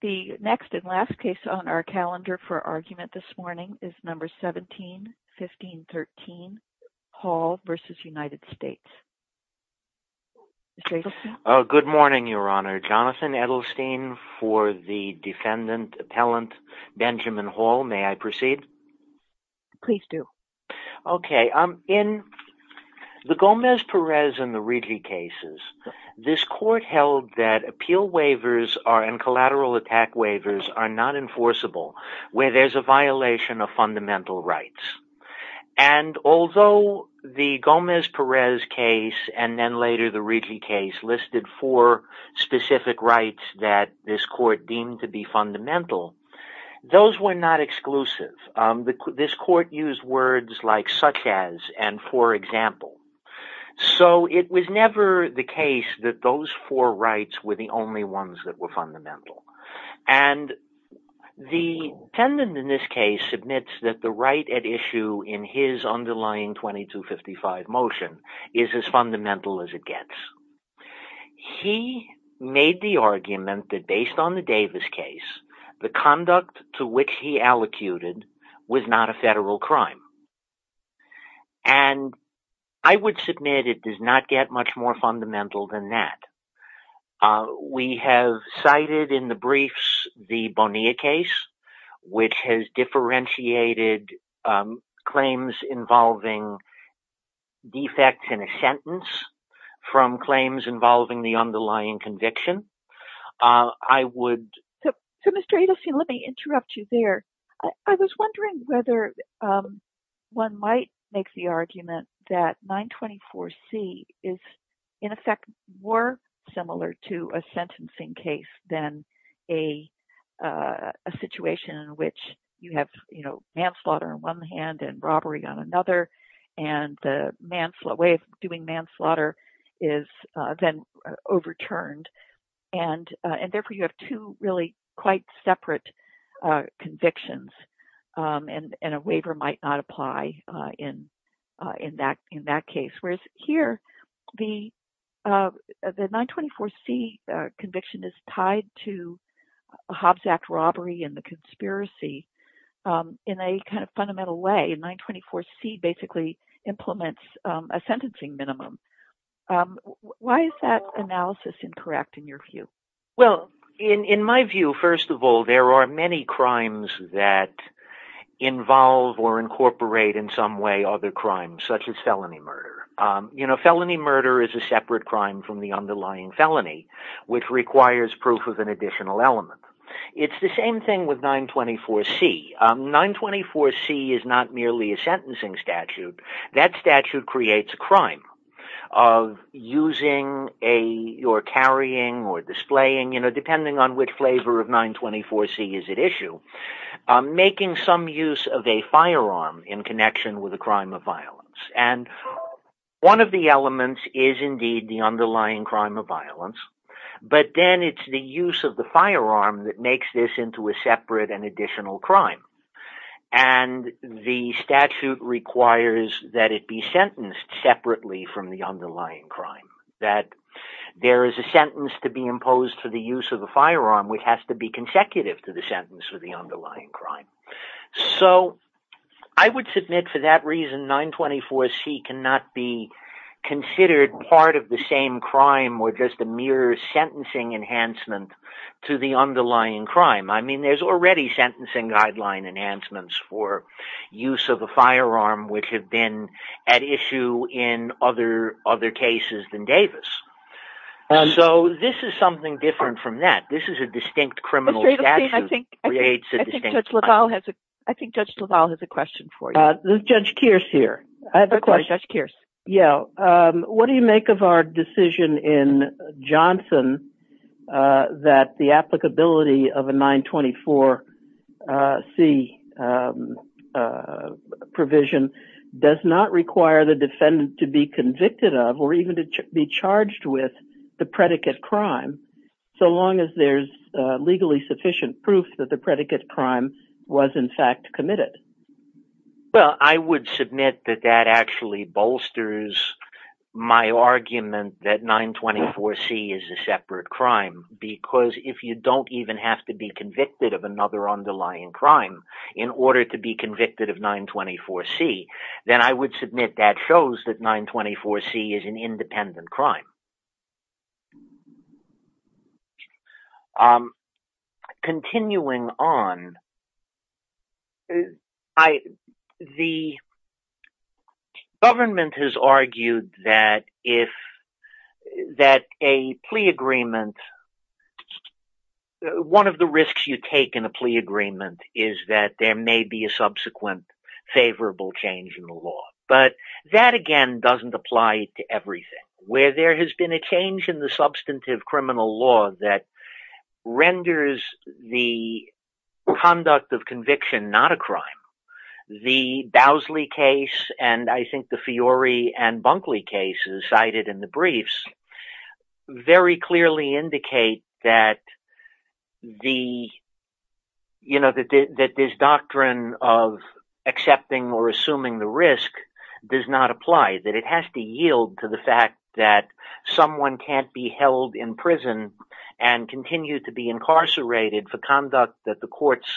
The next and last case on our calendar for argument this morning is No. 17-1513, Hall v. United States. Good morning, Your Honor. Jonathan Edelstein for the Defendant Appellant, Benjamin Hall. May I proceed? Please do. In the Gomez-Perez and the Ridley cases, this Court held that appeal waivers and collateral attack waivers are not enforceable where there's a violation of fundamental rights. And although the Gomez-Perez case and then later the Ridley case listed four specific rights that this Court deemed to be fundamental, those were not exclusive. This Court used words like such as and for example. So it was never the case that those four rights were the only ones that were fundamental. And the defendant in this case admits that the right at issue in his underlying 2255 motion is as fundamental as it gets. He made the argument that based on the Davis case, the conduct to which he allocated was not a federal crime. And I would submit it does not get much more fundamental than that. We have cited in the briefs the Bonilla case, which has differentiated claims involving defects in a sentence from claims involving the underlying conviction. I would. So, Mr. Adelstein, let me interrupt you there. I was wondering whether one might make the argument that 924C is in effect more similar to a sentencing case than a situation in which you have, you know, manslaughter on one hand and robbery on another. And the way of doing manslaughter is then overturned and therefore you have two really quite separate convictions and a waiver might not apply in that case. Whereas here, the 924C conviction is tied to Hobbs Act robbery and the conspiracy in a kind of fundamental way. 924C basically implements a sentencing minimum. Why is that analysis incorrect in your view? Well, in my view, first of all, there are many crimes that involve or incorporate in some way other crimes such as felony murder. You know, felony murder is a separate crime from the underlying felony, which requires proof of an additional element. It's the same thing with 924C. 924C is not merely a sentencing statute. That statute creates a crime of using or carrying or displaying, you know, depending on which flavor of 924C is at issue, making some use of a firearm in connection with a crime of violence. And one of the elements is indeed the underlying crime of violence. But then it's the use of the firearm that makes this into a separate and additional crime. And the statute requires that it be sentenced separately from the underlying crime. That there is a sentence to be imposed for the use of a firearm which has to be consecutive to the sentence for the underlying crime. So, I would submit for that reason, 924C cannot be considered part of the same crime or just a mere sentencing enhancement to the underlying crime. I mean, there's already sentencing guideline enhancements for use of a firearm which have been at issue in other cases than Davis. So, this is something different from that. This is a distinct criminal statute that creates a distinct crime. I think Judge LaValle has a question for you. Is Judge Kearse here? Of course, Judge Kearse. What do you make of our decision in Johnson that the applicability of a 924C provision does not require the defendant to be convicted of or even to be charged with the predicate crime, so long as there's legally sufficient proof that the predicate crime was in fact committed? Well, I would submit that that actually bolsters my argument that 924C is a separate crime because if you don't even have to be convicted of another underlying crime in order to be convicted of 924C, then I would submit that shows that 924C is an independent crime. Continuing on, the government has argued that if that a plea agreement, one of the risks you take in a plea agreement is that there may be a subsequent favorable change in the law. But that, again, doesn't apply to everything. Where there has been a change in the substantive criminal law that renders the conduct of conviction not a crime, the Bowsley case and I think the Fiore and Bunkley cases cited in the briefs very clearly indicate that this doctrine of accepting or assuming the risk does not apply. That it has to yield to the fact that someone can't be held in prison and continue to be incarcerated for conduct that the courts,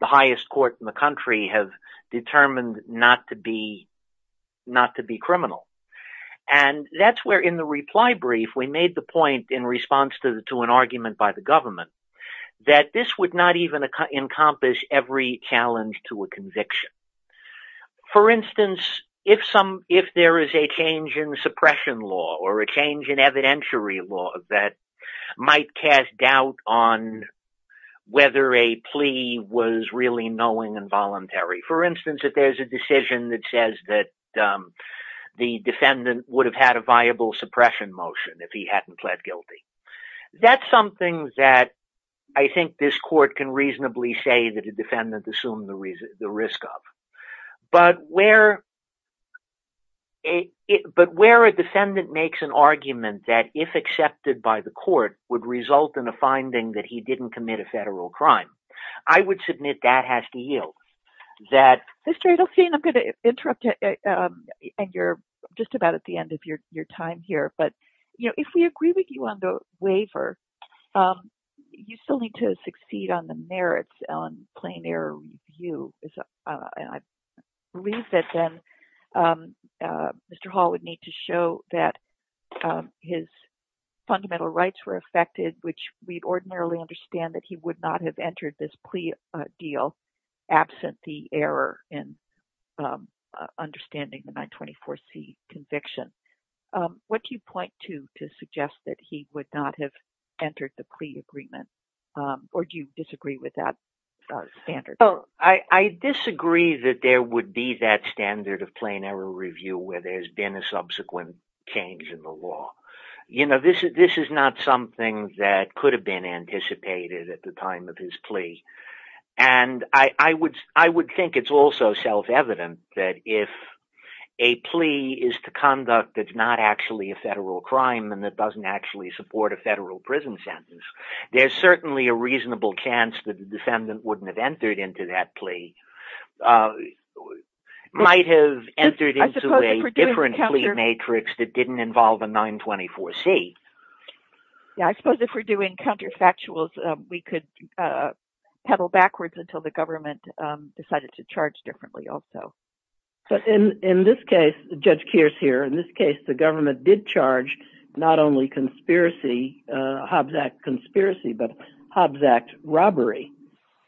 the highest court in the country, have determined not to be criminal. And that's where in the reply brief, we made the point in response to an argument by the government that this would not even encompass every challenge to a conviction. For instance, if there is a change in suppression law or a change in evidentiary law that might cast doubt on whether a plea was really knowing and voluntary. For instance, if there's a decision that says that the defendant would have had a viable suppression motion if he hadn't pled guilty. That's something that I think this court can reasonably say that a defendant assumed the risk of. But where a defendant makes an argument that if accepted by the court would result in a finding that he didn't commit a federal crime, I would submit that has to yield. Mr. Adelfine, I'm going to interrupt you. And you're just about at the end of your time here. But if we agree with you on the waiver, you still need to succeed on the merits on plain error review. And I believe that then Mr. Hall would need to show that his fundamental rights were affected, which we'd ordinarily understand that he would not have entered this plea deal absent the error in understanding the 924C conviction. What do you point to to suggest that he would not have entered the plea agreement? Or do you disagree with that standard? I disagree that there would be that standard of plain error review where there's been a subsequent change in the law. This is not something that could have been anticipated at the time of his plea. And I would think it's also self-evident that if a plea is to conduct that's not actually a federal crime and that doesn't actually support a federal prison sentence, there's certainly a reasonable chance that the defendant wouldn't have entered into that plea, might have entered into a different plea matrix that didn't involve a 924C. Yeah, I suppose if we're doing counterfactuals, we could peddle backwards until the government decided to charge differently also. But in this case, Judge Kearse here, in this case the government did charge not only conspiracy, Hobbs Act conspiracy, but Hobbs Act robbery.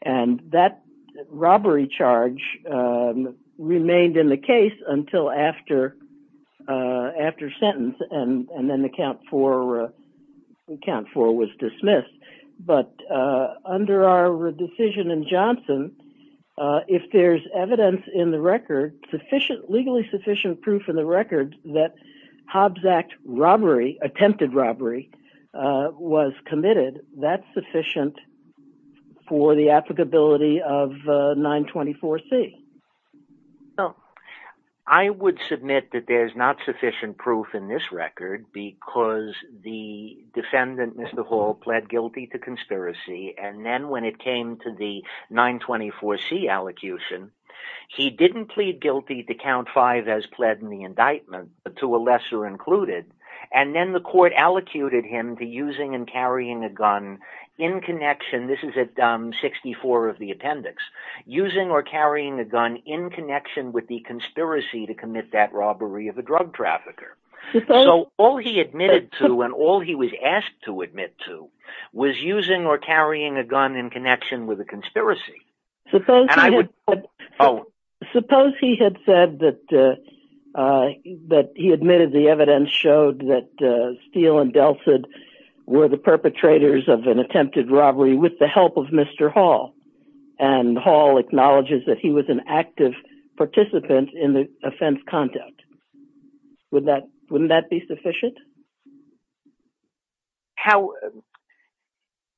And that robbery charge remained in the case until after sentence and then the count for was dismissed. But under our decision in Johnson, if there's evidence in the record, legally sufficient proof in the record that Hobbs Act attempted robbery was committed, that's sufficient for the applicability of 924C. I would submit that there's not sufficient proof in this record because the defendant, Mr. Hall, pled guilty to conspiracy. And then when it came to the 924C allocution, he didn't plead guilty to count five as pled in the indictment, but to a lesser included. And then the court allocated him to using and carrying a gun in connection, this is at 64 of the appendix, using or carrying a gun in connection with the conspiracy to commit that robbery of a drug trafficker. So all he admitted to and all he was asked to admit to was using or carrying a gun in connection with a conspiracy. Suppose he had said that he admitted the evidence showed that Steele and Delsed were the perpetrators of an attempted robbery with the help of Mr. Hall. And Hall acknowledges that he was an active participant in the offense conduct. Wouldn't that be sufficient?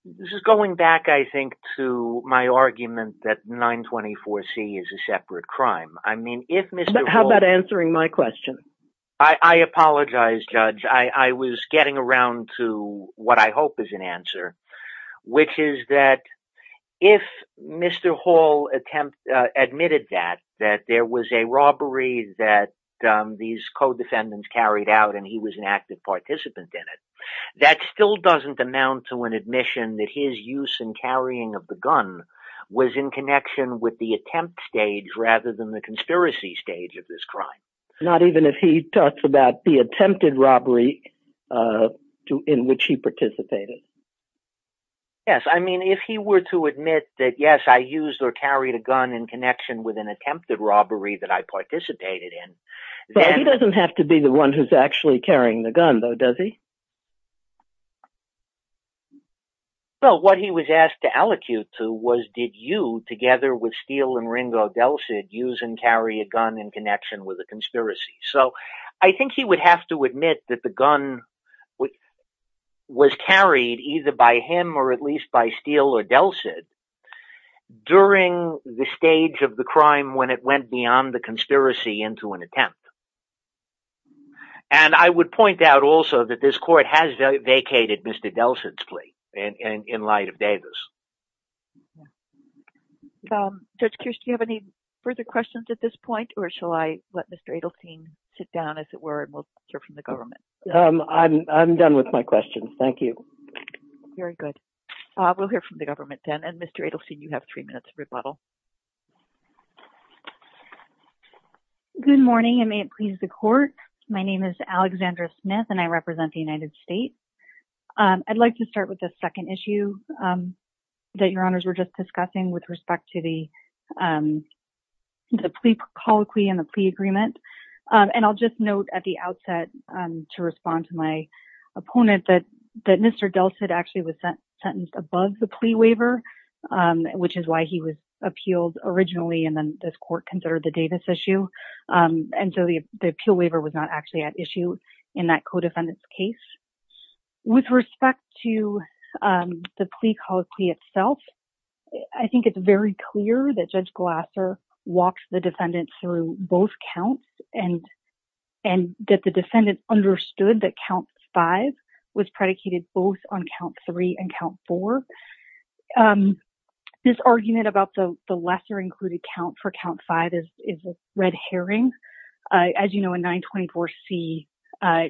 This is going back, I think, to my argument that 924C is a separate crime. How about answering my question? I apologize, Judge. I was getting around to what I hope is an answer, which is that if Mr. Hall admitted that there was a robbery that these co-defendants carried out and he was an active participant in it, that still doesn't amount to an admission that his use and carrying of the gun was in connection with the attempt stage rather than the conspiracy stage of this crime. Not even if he talks about the attempted robbery in which he participated. Yes. I mean, if he were to admit that, yes, I used or carried a gun in connection with an attempted robbery that I participated in. He doesn't have to be the one who's actually carrying the gun, though, does he? Well, what he was asked to allocute to was, did you, together with Steele and Ringo Delsed, use and carry a gun in connection with a conspiracy? So I think he would have to admit that the gun was carried either by him or at least by Steele or Delsed during the stage of the crime when it went beyond the conspiracy into an attempt. And I would point out also that this court has vacated Mr. Delsed's plea in light of Davis. Judge Kirsch, do you have any further questions at this point or shall I let Mr. Adelstein sit down, as it were, and we'll hear from the government? I'm done with my questions. Thank you. Very good. We'll hear from the government then. And Mr. Adelstein, you have three minutes rebuttal. Good morning, and may it please the court. My name is Alexandra Smith, and I represent the United States. I'd like to start with the second issue that your honors were just discussing with respect to the plea proclaim and the plea agreement. And I'll just note at the outset to respond to my opponent that Mr. Delsed actually was sentenced above the plea waiver, which is why he was appealed originally, and then this court considered the Davis issue. And so the appeal waiver was not actually at issue in that co-defendant's case. With respect to the plea called plea itself, I think it's very clear that Judge Glasser walks the defendant through both counts and that the defendant understood that count five was predicated both on count three and count four. This argument about the lesser included count for count five is a red herring. As you know, a 924C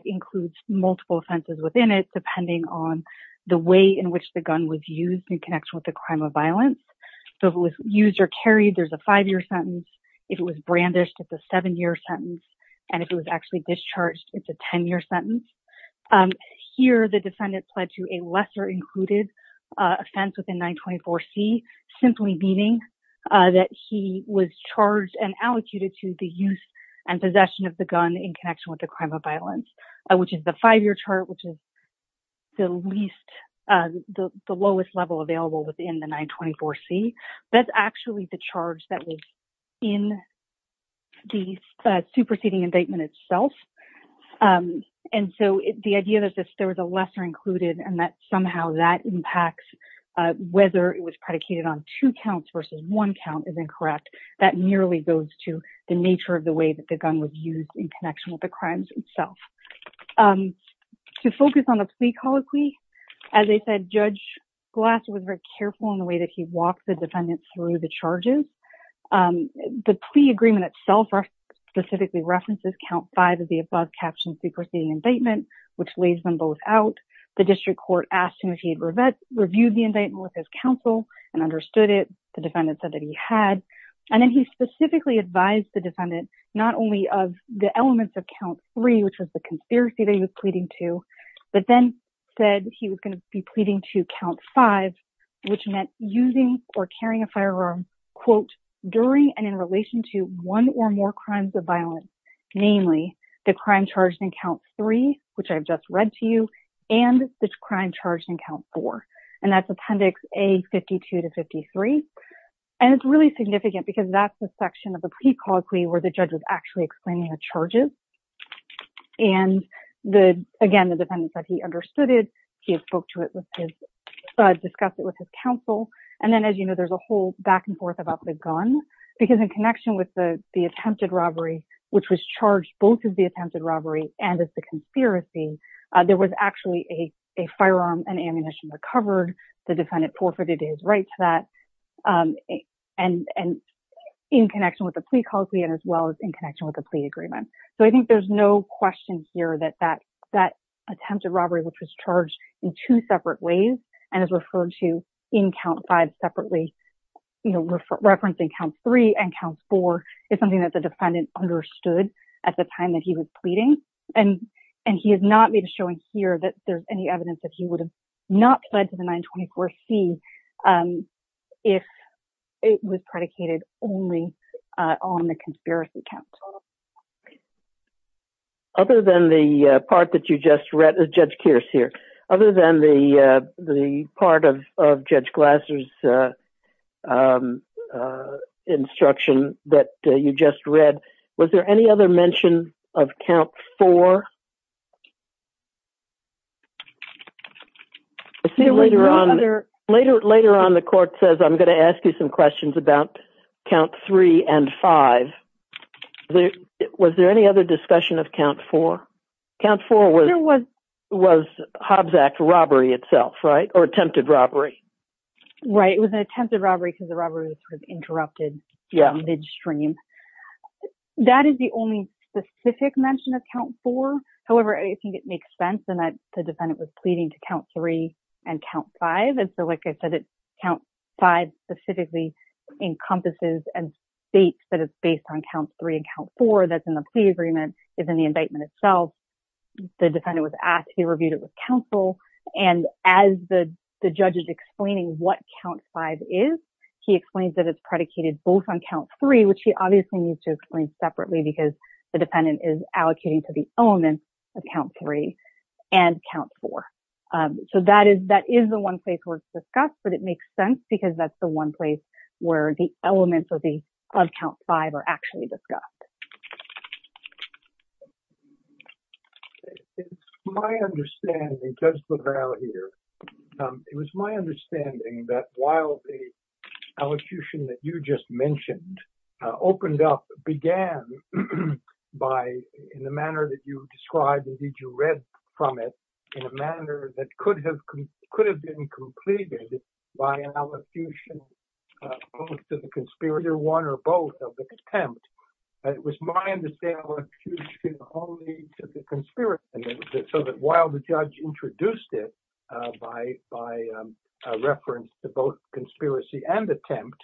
includes multiple offenses within it, depending on the way in which the gun was used in connection with the crime of violence. So if it was used or carried, there's a five-year sentence. If it was brandished, it's a seven-year sentence. And if it was actually discharged, it's a 10-year sentence. Here, the defendant pled to a lesser included offense within 924C, simply meaning that he was charged and allocuted to the use and possession of the gun in connection with the crime of violence, which is the five-year chart, which is the lowest level available within the 924C. That's actually the charge that was in the superseding indictment itself. And so the idea that there was a lesser included and that somehow that impacts whether it was predicated on two counts versus one count is incorrect. That merely goes to the nature of the way that the gun was used in connection with the crimes itself. To focus on the plea colloquy, as I said, Judge Glass was very careful in the way that he walked the defendant through the charges. The plea agreement itself specifically references count five of the above-captioned superseding indictment, which lays them both out. The district court asked him if he had reviewed the indictment with his counsel and understood it. The defendant said that he had. And then he specifically advised the defendant not only of the elements of count three, which was the conspiracy that he was pleading to, but then said he was going to be pleading to count five, which meant using or carrying a firearm, quote, during and in relation to one or more crimes of violence, namely the crime charged in count three, which I've just read to you, and the crime charged in count four. And that's Appendix A-52-53. And it's really significant because that's the section of the plea colloquy where the judge was actually explaining the charges. And again, the defendant said he understood it. He had spoke to it with his, discussed it with his counsel. And then, as you know, there's a whole back and forth about the gun because in connection with the attempted robbery, which was charged both as the attempted robbery and as the conspiracy, there was actually a firearm and ammunition recovered. The defendant forfeited his right to that and in connection with the plea colloquy and as well as in connection with the plea agreement. So I think there's no question here that that attempted robbery, which was charged in two separate ways and is referred to in count five separately, referencing count three and count four is something that the defendant understood at the time that he was pleading. And he has not made a showing here that there's any evidence that he would have not pledged to the 924C if it was predicated only on the conspiracy count. Other than the part that you just read, Judge Kearse here, other than the part of Judge Glasser's instruction that you just read, was there any other mention of count four? Later on, the court says, I'm going to ask you some questions about count three and five. Was there any other discussion of count four? Count four was Hobbs Act robbery itself, right? Or attempted robbery. Right. It was an attempted robbery because the robbery was interrupted midstream. That is the only specific mention of count four. However, I think it makes sense in that the defendant was pleading to count three and count five. And so like I said, count five specifically encompasses and states that it's based on count three and count four that's in the plea agreement is in the indictment itself. The defendant was asked, he reviewed it with counsel. And as the judge is explaining what count five is, he explains that it's predicated both on count three, which he obviously needs to explain separately because the defendant is allocating to the elements of count three and count four. So that is the one place where it's discussed, but it makes sense because that's the one place where the elements of count five are actually discussed. My understanding, Judge LaValle here, it was my understanding that while the allocution that you just mentioned opened up, began by, in the manner that you described, indeed, you read from it in a manner that could have been completed by an allocution to the conspirator one or both of the attempt. It was my understanding that the judge introduced it by reference to both conspiracy and attempt,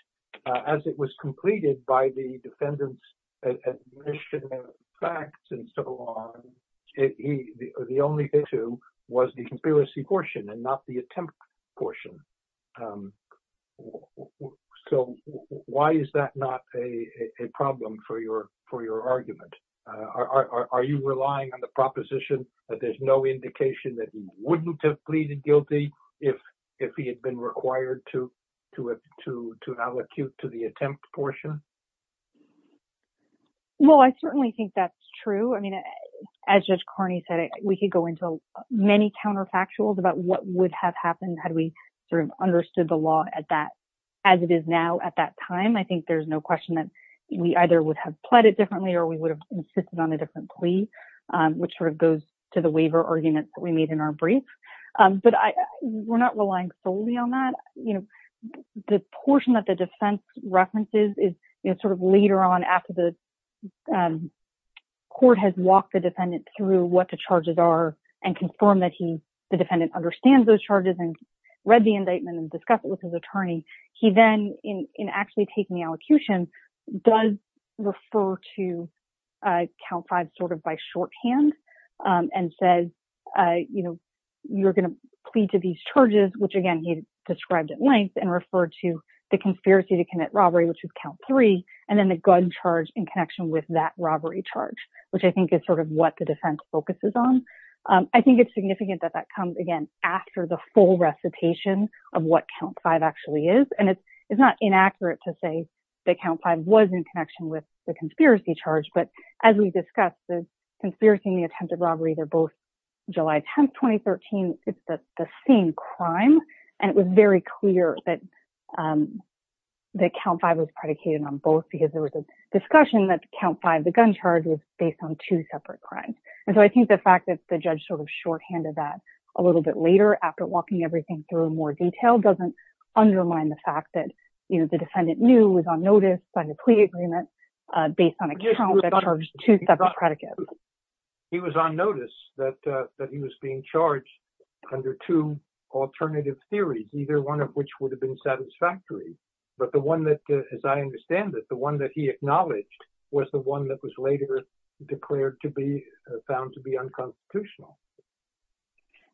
as it was completed by the defendant's admission of facts and so on, the only issue was the conspiracy portion and not the attempt portion. So why is that not a problem for your argument? Are you relying on the proposition that there's no indication that he wouldn't have pleaded guilty if he had been required to allocate to the attempt portion? Well, I certainly think that's true. I mean, as Judge Carney said, we could go into many counterfactuals about what would have happened had we sort of understood the law as it is now at that time. I think there's no question that we either would have pleaded differently or we would have insisted on a different plea, which sort of goes to the waiver arguments that we made in our brief. But we're not relying solely on that. The portion that the defense references is sort of later on after the court has walked the defendant through what the charges are and confirmed that the defendant understands those charges and read the indictment and discussed it with his attorney. He then, in actually taking the allocution, does refer to count five sort of by shorthand and says, you know, you're going to plead to these charges, which again he described at length and referred to the conspiracy to commit robbery, which is count three, and then the gun charge in connection with that robbery charge, which I think is sort of what the defense focuses on. I think it's significant that that comes again after the full recitation of what count five actually is, and it's not inaccurate to say that count five was in connection with the conspiracy charge, but as we discussed, the conspiracy and the attempted robbery, they're both July 10, 2013, it's the same crime, and it was very clear that that count five was predicated on both because there was a discussion that count five, the gun charge was based on two separate crimes. And so I think the fact that the judge sort of shorthanded that a little bit later after walking everything through in more detail doesn't undermine the fact that, you know, the defendant knew was on notice by the plea agreement, based on a count that charged two separate predicates. He was on notice that he was being charged under two alternative theories, either one of which would have been satisfactory, but the one that, as I understand it, the one that he acknowledged was the one that was later declared to be found to be unconstitutional.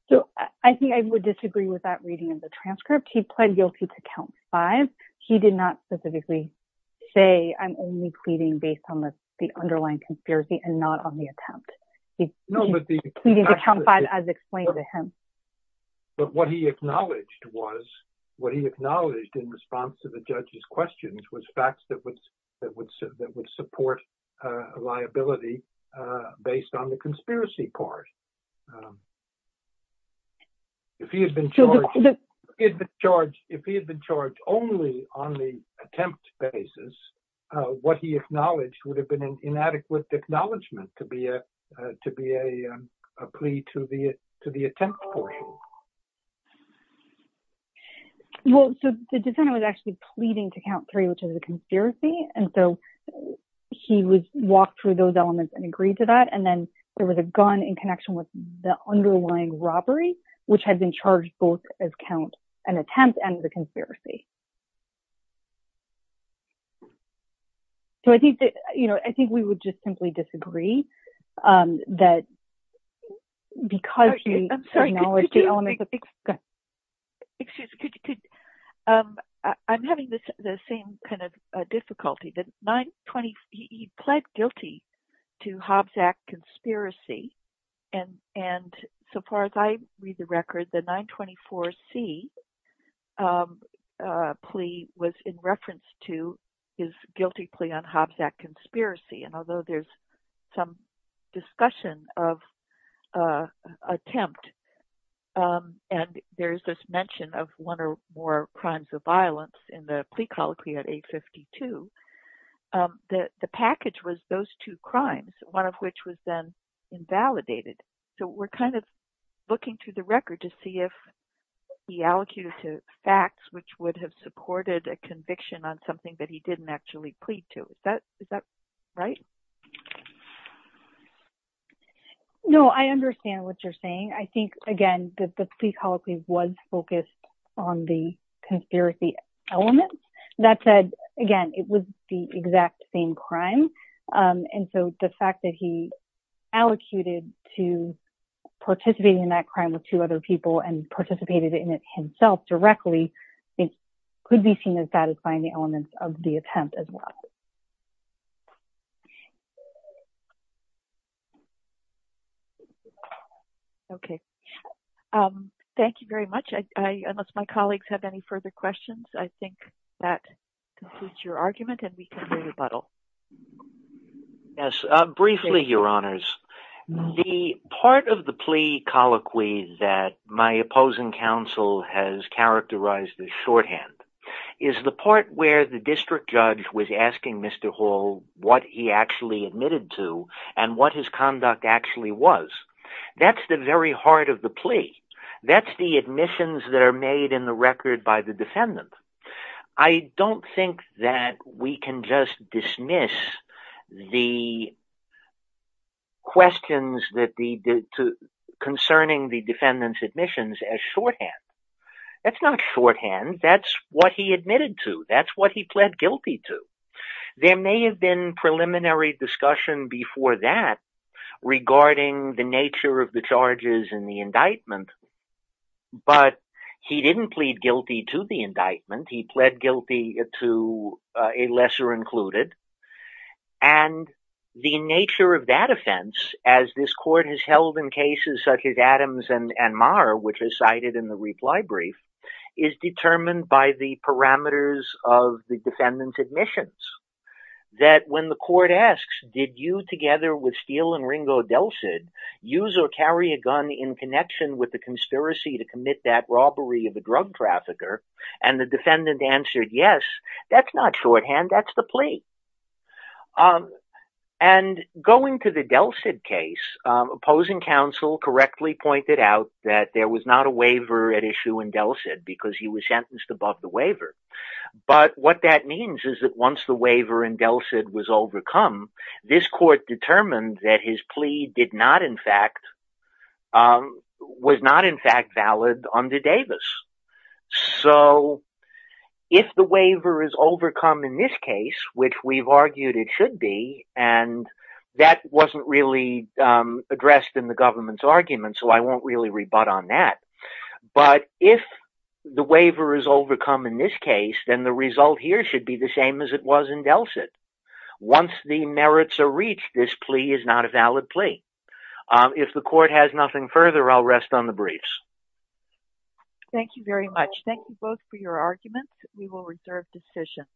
So I think I would disagree with that reading of the transcript. He pled guilty to count five. He did not specifically say, I'm only pleading based on the underlying conspiracy and not on the attempt. He's pleading to count five as explained to him. But what he acknowledged was, what he acknowledged in response to the judge's questions was facts that would support liability based on the conspiracy part. If he had been charged, if he had been charged only on the attempt basis, what he acknowledged would have been an inadequate acknowledgement to be a plea to the attempt portion. Well, so the defendant was actually pleading to count three, which is a conspiracy. And so he would walk through those elements and agree to that. And then there was a gun in connection with the underlying robbery, which had been charged both as count an attempt and the conspiracy. So I think that, you know, I think we would just simply disagree that because he acknowledged the elements of the- And although there's some discussion of attempt, and there's this mention of one or more crimes of violence in the plea colloquy at 852, the package was those two crimes, one of which was then invalidated. So we're kind of looking through the record to see if he allocated to facts, which would have supported a conviction on something that he didn't actually plead to. Is that right? No, I understand what you're saying. I think, again, that the plea colloquy was focused on the conspiracy elements. That said, again, it was the exact same crime. And so the fact that he allocated to participating in that crime with two other people and participated in it himself directly could be seen as satisfying the elements of the attempt as well. Okay. Thank you very much. Unless my colleagues have any further questions, I think that concludes your argument and we can move to rebuttal. Briefly, Your Honors. The part of the plea colloquy that my opposing counsel has characterized as shorthand is the part where the district judge was asking Mr. Hall what he actually admitted to and what his conduct actually was. That's the very heart of the plea. That's the admissions that are made in the record by the defendant. I don't think that we can just dismiss the questions concerning the defendant's admissions as shorthand. That's not shorthand. That's what he admitted to. That's what he pled guilty to. There may have been preliminary discussion before that regarding the nature of the charges in the indictment, but he didn't plead guilty to the indictment. He pled guilty to a lesser included. And the nature of that offense, as this court has held in cases such as Adams and Marr, which is cited in the reply brief, is determined by the parameters of the defendant's admissions. That when the court asks, did you together with Steele and Ringo Delsed use or carry a gun in connection with the conspiracy to commit that robbery of a drug trafficker? And the defendant answered, yes, that's not shorthand. That's the plea. And going to the Delsed case, opposing counsel correctly pointed out that there was not a waiver at issue in Delsed because he was sentenced above the waiver. But what that means is that once the waiver in Delsed was overcome, this court determined that his plea did not, in fact, was not in fact valid under Davis. So if the waiver is overcome in this case, which we've argued it should be, and that wasn't really addressed in the government's argument, so I won't really rebut on that. But if the waiver is overcome in this case, then the result here should be the same as it was in Delsed. Once the merits are reached, this plea is not a valid plea. If the court has nothing further, I'll rest on the briefs. Thank you very much. Thank you both for your arguments. We will reserve decision.